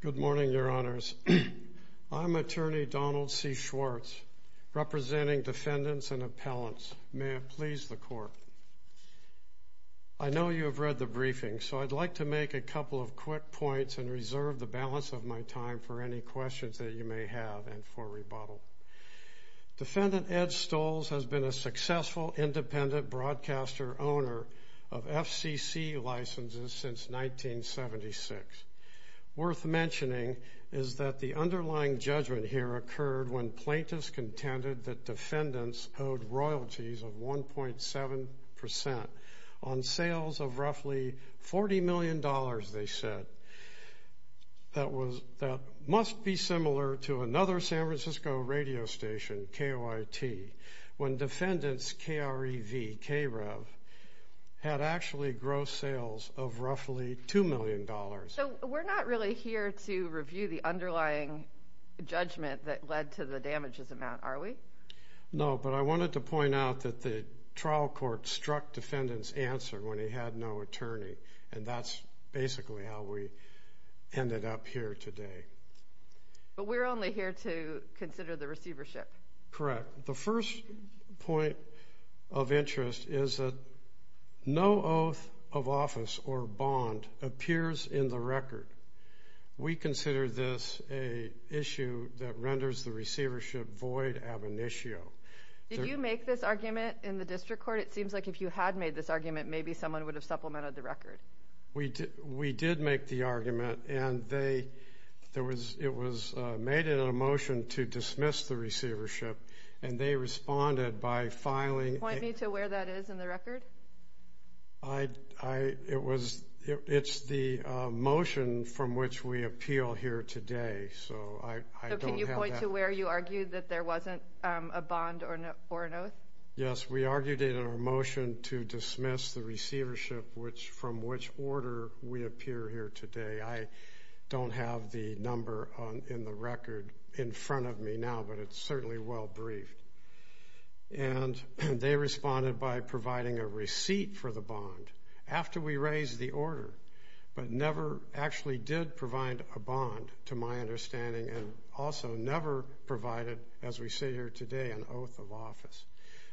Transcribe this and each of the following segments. Good morning, Your Honors. I'm Attorney Donald C. Schwartz, representing defendants and appellants. May it please the Court. I know you have read the briefing, so I'd like to make a couple of quick points and reserve the balance of my time for any questions that you may have and for rebuttal. Defendant Ed Stolls has been a successful independent broadcaster-owner of FCC licenses since 1976. Worth mentioning is that the underlying judgment here occurred when plaintiffs contended that defendants owed royalties of 1.7 percent on sales of roughly $40 million, they said, that must be similar to another San Francisco radio station, KYT, when defendants' KREV had actually gross sales of roughly $2 million. So we're not really here to review the underlying judgment that led to the damages amount, are we? No, but I wanted to point out that the trial court struck defendants' answer when they had no attorney, and that's basically how we ended up here today. But we're only here to consider the receivership. Correct. The first point of interest is that no oath of office or bond appears in the record. We consider this an issue that renders the receivership void ab initio. Did you make this argument in the district court? It seems like if you had made this argument, maybe someone would have supplemented the record. We did make the argument, and it was made in a motion to dismiss the receivership, and they responded by filing- Point me to where that is in the record. It's the motion from which we appeal here today, so I don't have that. So can you point to where you argued that there wasn't a bond or an oath? Yes, we argued it in our motion to dismiss the receivership from which order we appear here today. I don't have the number in the record in front of me now, but it's certainly well briefed. And they responded by providing a receipt for the bond after we raised the order, but never actually did provide a bond, to my understanding, and also never provided, as we sit here today, an oath of office.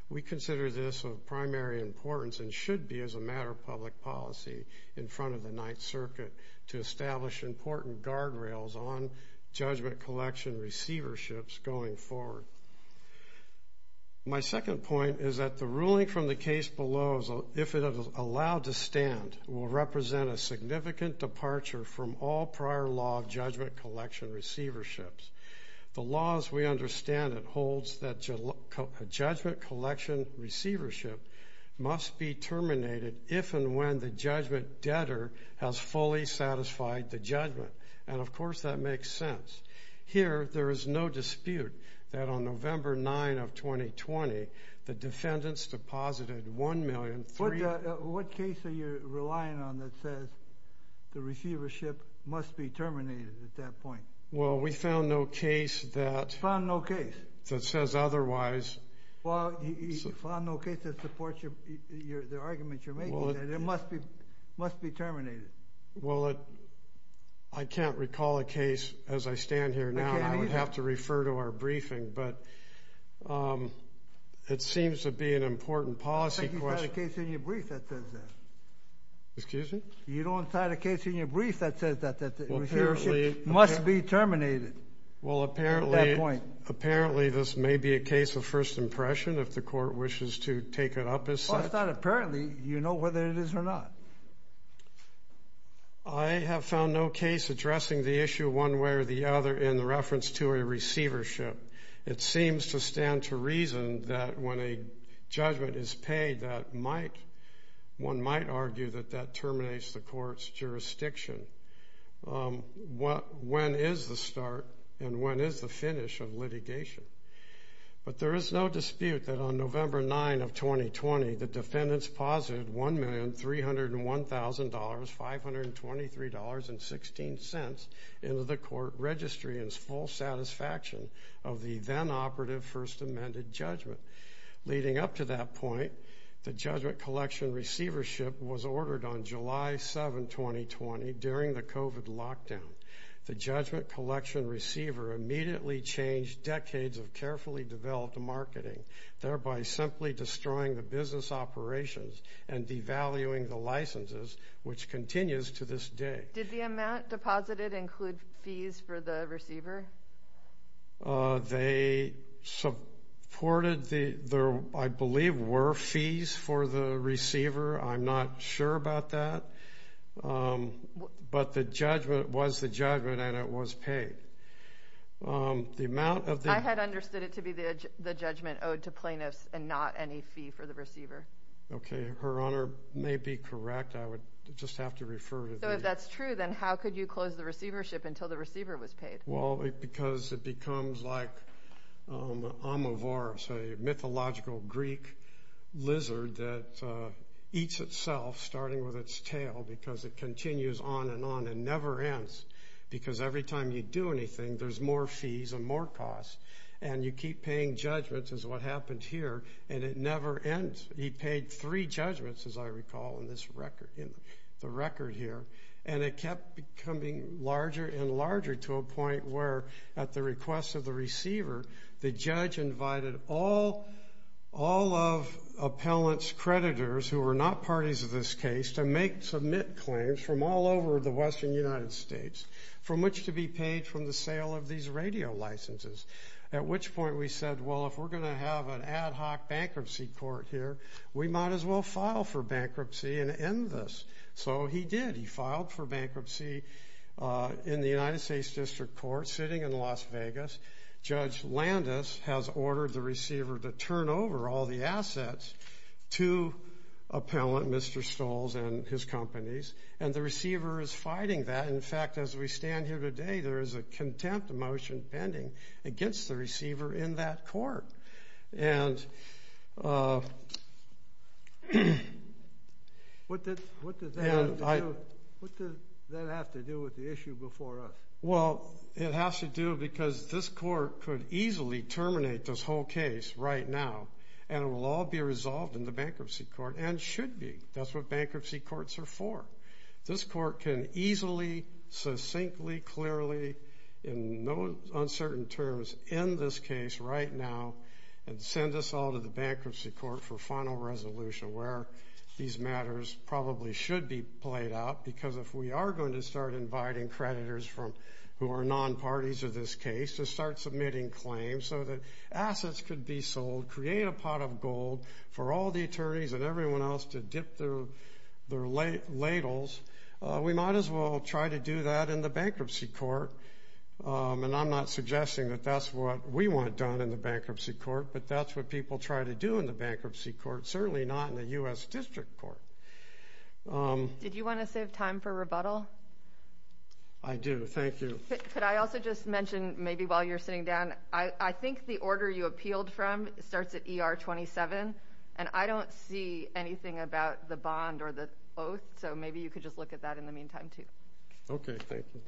We consider this of primary importance and should be as a matter of public policy in front of the Ninth Circuit to establish important guardrails on judgment collection receiverships going forward. My second point is that the ruling from the case below, if it is allowed to stand, will represent a significant departure from all prior law of judgment collection receiverships. The law, as we understand it, holds that a judgment collection receivership must be terminated if and when the judgment debtor has fully satisfied the judgment. And, of course, that makes sense. Here, there is no dispute that on November 9 of 2020, the defendants deposited $1,300,000- What case are you relying on that says the receivership must be terminated at that point? Well, we found no case that- You found no case? That says otherwise. Well, you found no case that supports the argument you're making that it must be terminated. Well, I can't recall a case as I stand here now. I can't either. I would have to refer to our briefing, but it seems to be an important policy question. You don't cite a case in your brief that says that. Excuse me? You don't cite a case in your brief that says that the receivership must be terminated. Well, apparently- At that point. Apparently, this may be a case of first impression if the court wishes to take it up as such. Well, it's not apparently. You know whether it is or not. I have found no case addressing the issue one way or the other in reference to a receivership. It seems to stand to reason that when a judgment is paid, one might argue that that terminates the court's jurisdiction. When is the start and when is the finish of litigation? But there is no dispute that on November 9 of 2020, the defendants posited $1,301,523.16 into the court registry in full satisfaction of the then-operative First Amendment judgment. Leading up to that point, the judgment collection receivership was ordered on July 7, 2020, during the COVID lockdown. The judgment collection receiver immediately changed decades of carefully developed marketing, thereby simply destroying the business operations and devaluing the licenses, which continues to this day. Did the amount deposited include fees for the receiver? They supported the- I believe were fees for the receiver. I'm not sure about that. But the judgment was the judgment and it was paid. I had understood it to be the judgment owed to plaintiffs and not any fee for the receiver. Okay. Her Honor may be correct. I would just have to refer to the- So if that's true, then how could you close the receivership until the receiver was paid? Well, because it becomes like a mythological Greek lizard that eats itself, starting with its tail, because it continues on and on and never ends. Because every time you do anything, there's more fees and more costs. And you keep paying judgments is what happened here. And it never ends. He paid three judgments, as I recall in this record, in the record here. And it kept becoming larger and larger to a point where, at the request of the receiver, the judge invited all of appellant's creditors, who were not parties of this case, to make submit claims from all over the western United States, from which to be paid from the sale of these radio licenses. At which point we said, well, if we're going to have an ad hoc bankruptcy court here, we might as well file for bankruptcy and end this. So he did. He filed for bankruptcy in the United States District Court, sitting in Las Vegas. Judge Landis has ordered the receiver to turn over all the assets to appellant Mr. Stolls and his companies. And the receiver is fighting that. In fact, as we stand here today, there is a contempt motion pending against the receiver in that court. And what does that have to do with the issue before us? Well, it has to do because this court could easily terminate this whole case right now. And it will all be resolved in the bankruptcy court and should be. That's what bankruptcy courts are for. This court can easily, succinctly, clearly, in no uncertain terms, end this case right now and send us all to the bankruptcy court for final resolution where these matters probably should be played out. Because if we are going to start inviting creditors who are non-parties of this case to start submitting claims so that assets could be sold, create a pot of gold for all the attorneys and everyone else to dip their ladles, we might as well try to do that in the bankruptcy court. And I'm not suggesting that that's what we want done in the bankruptcy court, but that's what people try to do in the bankruptcy court, certainly not in the U.S. District Court. Did you want to save time for rebuttal? I do. Thank you. Could I also just mention maybe while you're sitting down, I think the order you appealed from starts at ER 27, and I don't see anything about the bond or the oath, so maybe you could just look at that in the meantime too. Okay. Thank you.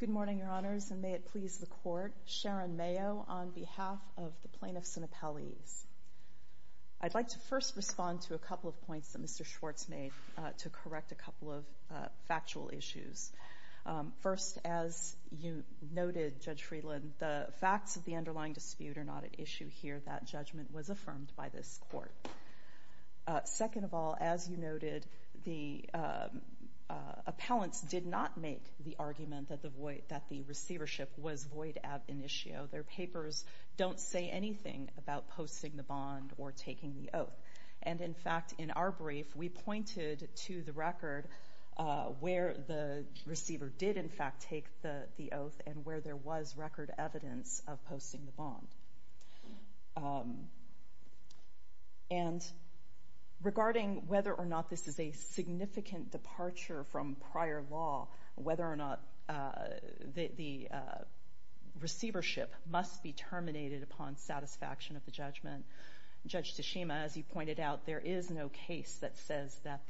Good morning, Your Honors, and may it please the court. Sharon Mayo on behalf of the plaintiffs and appellees. I'd like to first respond to a couple of points that Mr. Schwartz made to correct a couple of factual issues. First, as you noted, Judge Friedland, the facts of the underlying dispute are not at issue here. That judgment was affirmed by this court. Second of all, as you noted, the appellants did not make the argument that the receivership was void ab initio. Their papers don't say anything about posting the bond or taking the oath. And, in fact, in our brief, we pointed to the record where the receiver did, in fact, take the oath and where there was record evidence of posting the bond. And regarding whether or not this is a significant departure from prior law, whether or not the receivership must be terminated upon satisfaction of the judgment, Judge Tashima, as you pointed out, there is no case that says that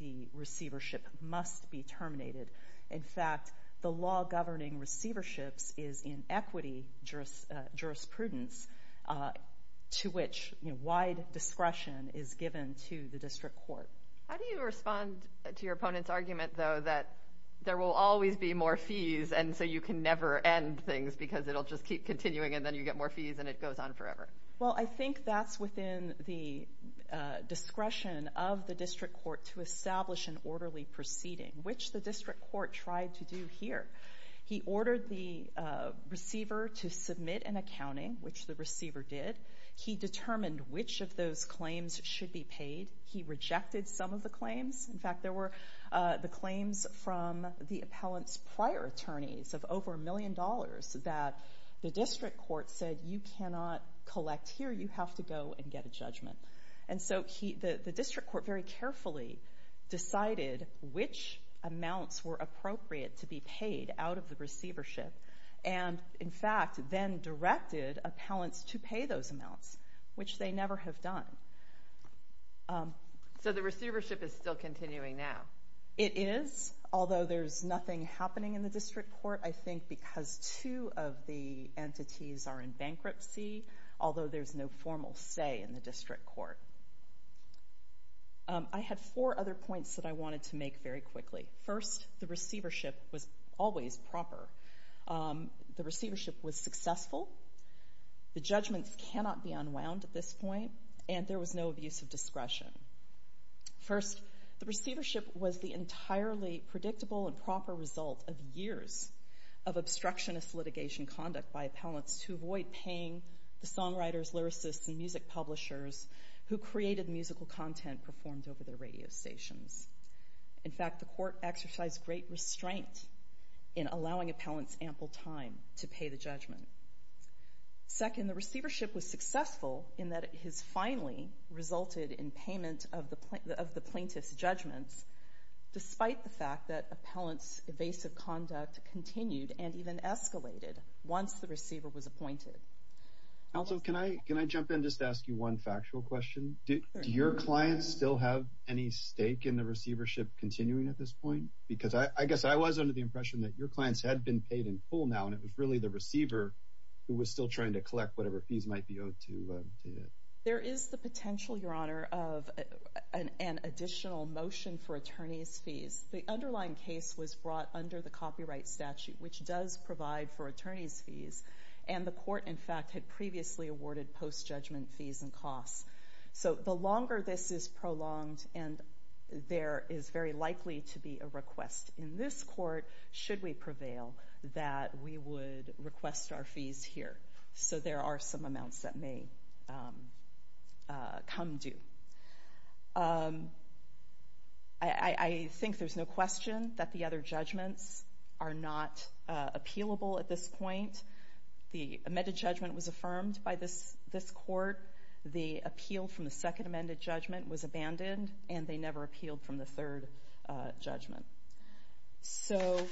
the receivership must be terminated. In fact, the law governing receiverships is in equity jurisprudence to which, you know, wide discretion is given to the district court. How do you respond to your opponent's argument, though, that there will always be more fees and so you can never end things because it'll just keep continuing and then you get more fees and it goes on forever? Well, I think that's within the discretion of the district court to establish an orderly proceeding, which the district court tried to do here. He ordered the receiver to submit an accounting, which the receiver did. He determined which of those claims should be paid. He rejected some of the claims. In fact, there were the claims from the appellant's prior attorneys of over a million dollars that the district court said, you cannot collect here. You have to go and get a judgment. And so the district court very carefully decided which amounts were appropriate to be paid out of the receivership and, in fact, then directed appellants to pay those amounts, which they never have done. So the receivership is still continuing now? It is, although there's nothing happening in the district court, I think, because two of the entities are in bankruptcy, although there's no formal say in the district court. I had four other points that I wanted to make very quickly. First, the receivership was always proper. The receivership was successful. The judgments cannot be unwound at this point, and there was no abuse of discretion. First, the receivership was the entirely predictable and proper result of years of obstructionist litigation conduct by appellants to avoid paying the songwriters, lyricists, and music publishers who created musical content performed over their radio stations. In fact, the court exercised great restraint in allowing appellants ample time to pay the judgment. Second, the receivership was successful in that it has finally resulted in payment of the plaintiff's judgments, despite the fact that appellants' evasive conduct continued and even escalated once the receiver was appointed. Also, can I jump in and just ask you one factual question? Do your clients still have any stake in the receivership continuing at this point? Because I guess I was under the impression that your clients had been paid in full now, and it was really the receiver who was still trying to collect whatever fees might be owed to it. There is the potential, Your Honor, of an additional motion for attorneys' fees. The underlying case was brought under the copyright statute, which does provide for attorneys' fees, and the court, in fact, had previously awarded post-judgment fees and costs. So the longer this is prolonged, and there is very likely to be a request in this court, should we prevail, that we would request our fees here. So there are some amounts that may come due. I think there's no question that the other judgments are not appealable at this point. The amended judgment was affirmed by this court. The appeal from the second amended judgment was abandoned, and they never appealed from the third judgment. So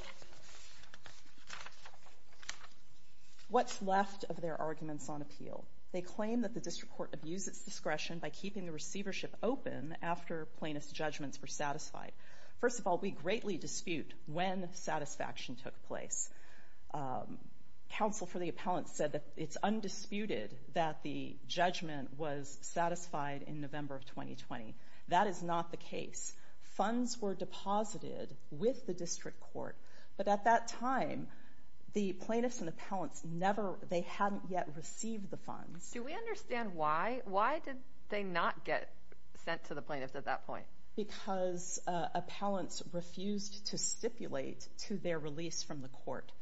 what's left of their arguments on appeal? They claim that the district court abused its discretion by keeping the receivership open after plaintiff's judgments were satisfied. First of all, we greatly dispute when satisfaction took place. Counsel for the appellant said that it's undisputed that the judgment was satisfied in November of 2020. That is not the case. Funds were deposited with the district court, but at that time, the plaintiffs and appellants never, they hadn't yet received the funds. Do we understand why? Why did they not get sent to the plaintiffs at that point? Because appellants refused to stipulate to their release from the court.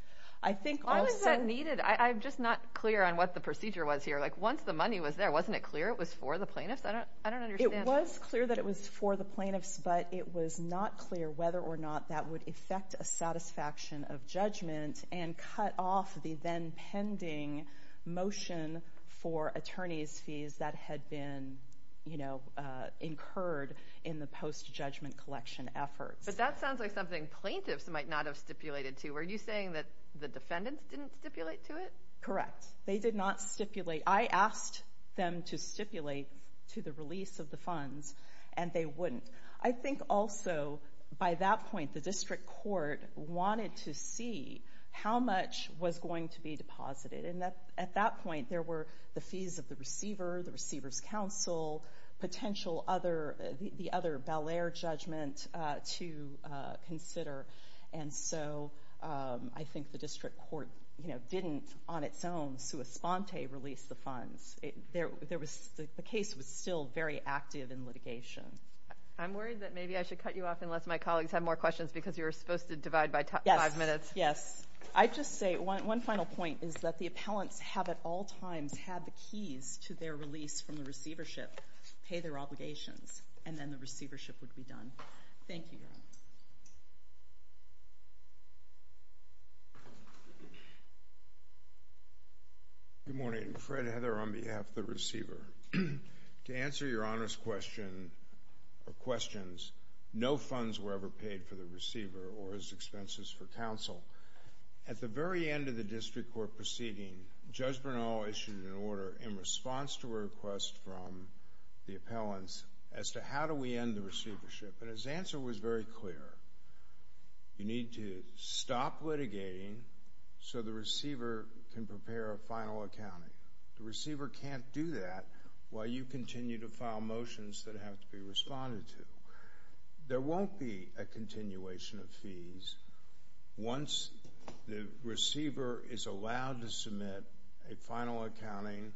I think also... Why was that needed? I'm just not clear on what the procedure was here. Like, once the money was there, wasn't it clear it was for the plaintiffs? I don't understand. It was clear that it was for the plaintiffs, but it was not clear whether or not that would affect a satisfaction of judgment and cut off the then-pending motion for attorney's fees that had been incurred in the post-judgment collection efforts. But that sounds like something plaintiffs might not have stipulated to. Were you saying that the defendants didn't stipulate to it? Correct. They did not stipulate. I asked them to stipulate to the release of the funds, and they wouldn't. I think also, by that point, the district court wanted to see how much was going to be deposited. And at that point, there were the fees of the receiver, the receiver's counsel, potential other... the other Bellaire judgment to consider. And so I think the district court didn't, on its own, sua sponte release the funds. The case was still very active in litigation. I'm worried that maybe I should cut you off unless my colleagues have more questions because you were supposed to divide by five minutes. Yes. Yes. I'd just say one final point is that the appellants have at all times had the keys to their release from the receivership, pay their obligations, and then the receivership would be done. Thank you, Your Honor. Good morning. Fred Heather on behalf of the receiver. To answer Your Honor's question or questions, no funds were ever paid for the receiver or his expenses for counsel. At the very end of the district court proceeding, Judge Bernal issued an order in response to a request from the appellants as to how do we end the receivership. And his answer was very clear. You need to stop litigating so the receiver can prepare a final accounting. The receiver can't do that while you continue to file motions that have to be responded to. There won't be a continuation of fees once the receiver is allowed to submit a final accounting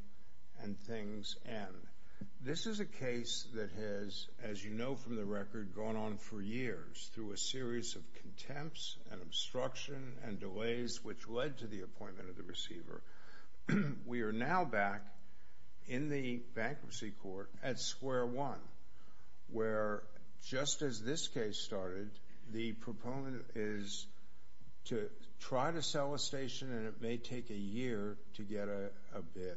and things end. This is a case that has, as you know from the record, gone on for years through a series of contempts and obstruction and delays which led to the appointment of the receiver. We are now back in the bankruptcy court at square one where just as this case started, the proponent is to try to sell a station and it may take a year to get a bid.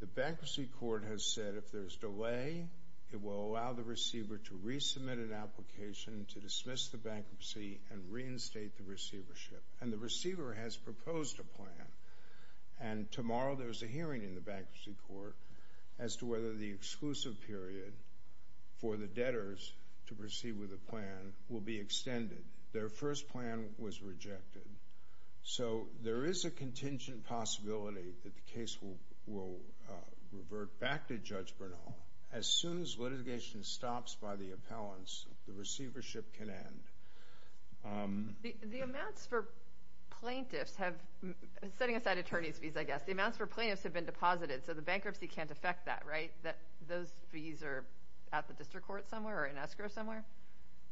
The bankruptcy court has said if there's delay, it will allow the receiver to resubmit an application to dismiss the bankruptcy and reinstate the receivership. And the receiver has proposed a plan. And tomorrow there's a hearing in the bankruptcy court as to whether the exclusive period for the debtors to proceed with the plan will be extended. Their first plan was rejected. So there is a contingent possibility that the case will revert back to Judge Bernal. As soon as litigation stops by the appellants, the receivership can end. The amounts for plaintiffs have, setting aside attorney's fees I guess, the amounts for plaintiffs have been deposited so the bankruptcy can't affect that, right? Those fees are at the district court somewhere or in escrow somewhere?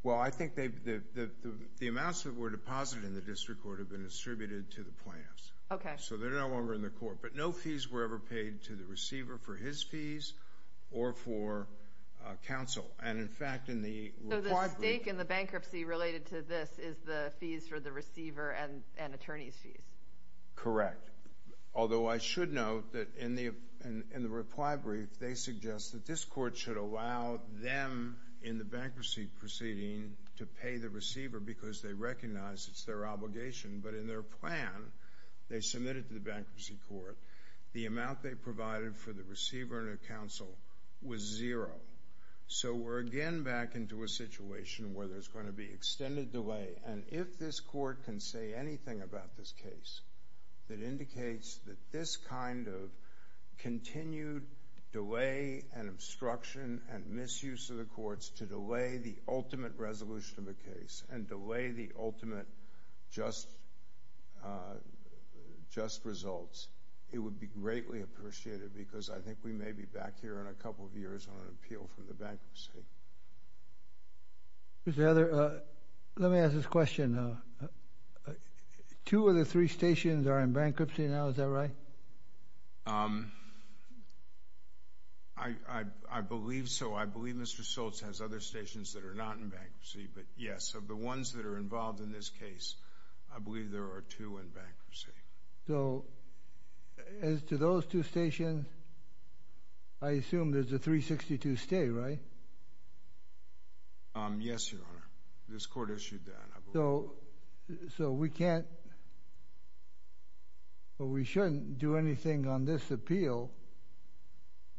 Well, I think the amounts that were deposited in the district court have been distributed to the plaintiffs. Okay. So they're no longer in the court. But no fees were ever paid to the receiver for his fees or for counsel. So the stake in the bankruptcy related to this is the fees for the receiver and attorney's fees? Correct. Although I should note that in the reply brief, they suggest that this court should allow them in the bankruptcy proceeding to pay the receiver because they recognize it's their obligation. But in their plan, they submit it to the bankruptcy court. The amount they provided for the receiver and the counsel was zero. So we're again back into a situation where there's going to be extended delay. And if this court can say anything about this case that indicates that this kind of continued delay and obstruction and misuse of the courts to delay the ultimate resolution of a case and delay the ultimate just results, it would be greatly appreciated because I think we may be back here in a couple of years on an appeal from the bankruptcy. Mr. Heather, let me ask this question. Two of the three stations are in bankruptcy now. Is that right? I believe so. I believe Mr. Schultz has other stations that are not in bankruptcy. But, yes, of the ones that are involved in this case, I believe there are two in bankruptcy. So as to those two stations, I assume there's a 362 stay, right? Yes, Your Honor. This court issued that. So we can't or we shouldn't do anything on this appeal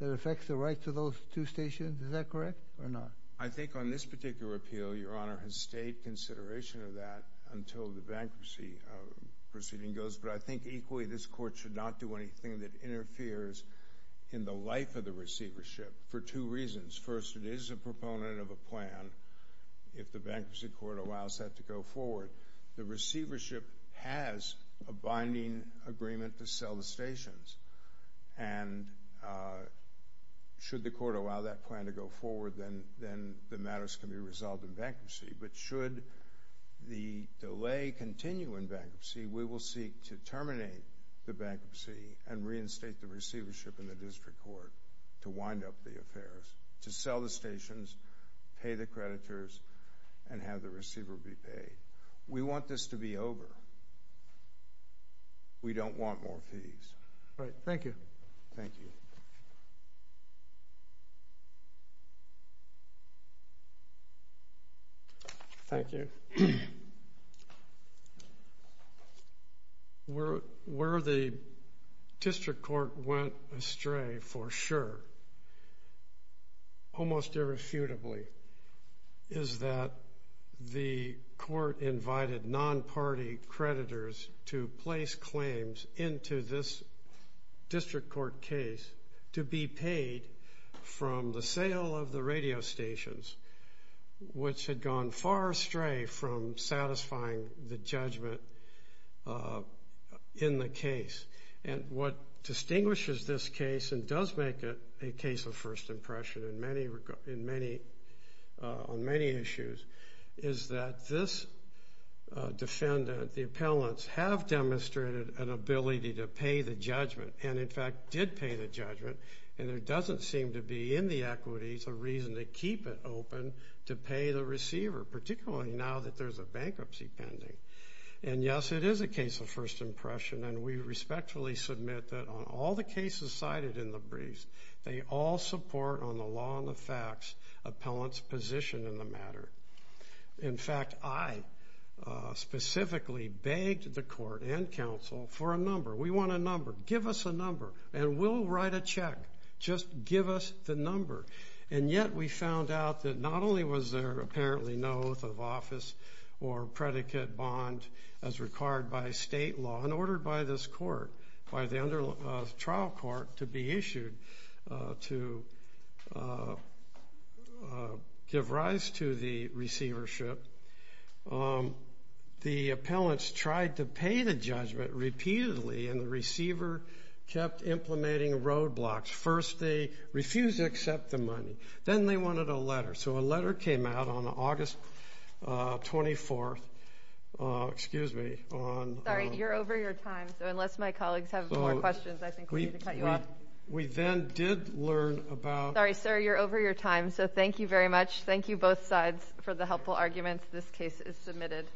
that affects the rights of those two stations. Is that correct or not? I think on this particular appeal, Your Honor, has stayed consideration of that until the bankruptcy proceeding goes. But I think equally this court should not do anything that interferes in the life of the receivership for two reasons. First, it is a proponent of a plan if the bankruptcy court allows that to go forward. The receivership has a binding agreement to sell the stations. And should the court allow that plan to go forward, then the matters can be resolved in bankruptcy. But should the delay continue in bankruptcy, we will seek to terminate the bankruptcy and reinstate the receivership in the district court to wind up the affairs, to sell the stations, pay the creditors, and have the receiver be paid. We want this to be over. We don't want more fees. All right. Thank you. Thank you. Thank you. Where the district court went astray for sure, almost irrefutably, is that the court invited non-party creditors to place claims into this district court case to be paid from the sale of the radio stations, which had gone far astray from satisfying the judgment in the case. And what distinguishes this case and does make it a case of first impression on many issues is that this defendant, the appellants, have demonstrated an ability to pay the judgment and, in fact, did pay the judgment, and there doesn't seem to be in the equities a reason to keep it open to pay the receiver, particularly now that there's a bankruptcy pending. And, yes, it is a case of first impression, and we respectfully submit that on all the cases cited in the briefs, that they all support on the law and the facts appellants' position in the matter. In fact, I specifically begged the court and counsel for a number. We want a number. Give us a number, and we'll write a check. Just give us the number. And yet we found out that not only was there apparently no oath of office or predicate bond as required by state law and ordered by this court, by the trial court to be issued to give rise to the receivership, the appellants tried to pay the judgment repeatedly, and the receiver kept implementing roadblocks. First they refused to accept the money. Then they wanted a letter. So a letter came out on August 24th. Excuse me. Sorry, you're over your time. So unless my colleagues have more questions, I think we need to cut you off. We then did learn about. Sorry, sir, you're over your time. So thank you very much. Thank you both sides for the helpful arguments. This case is submitted.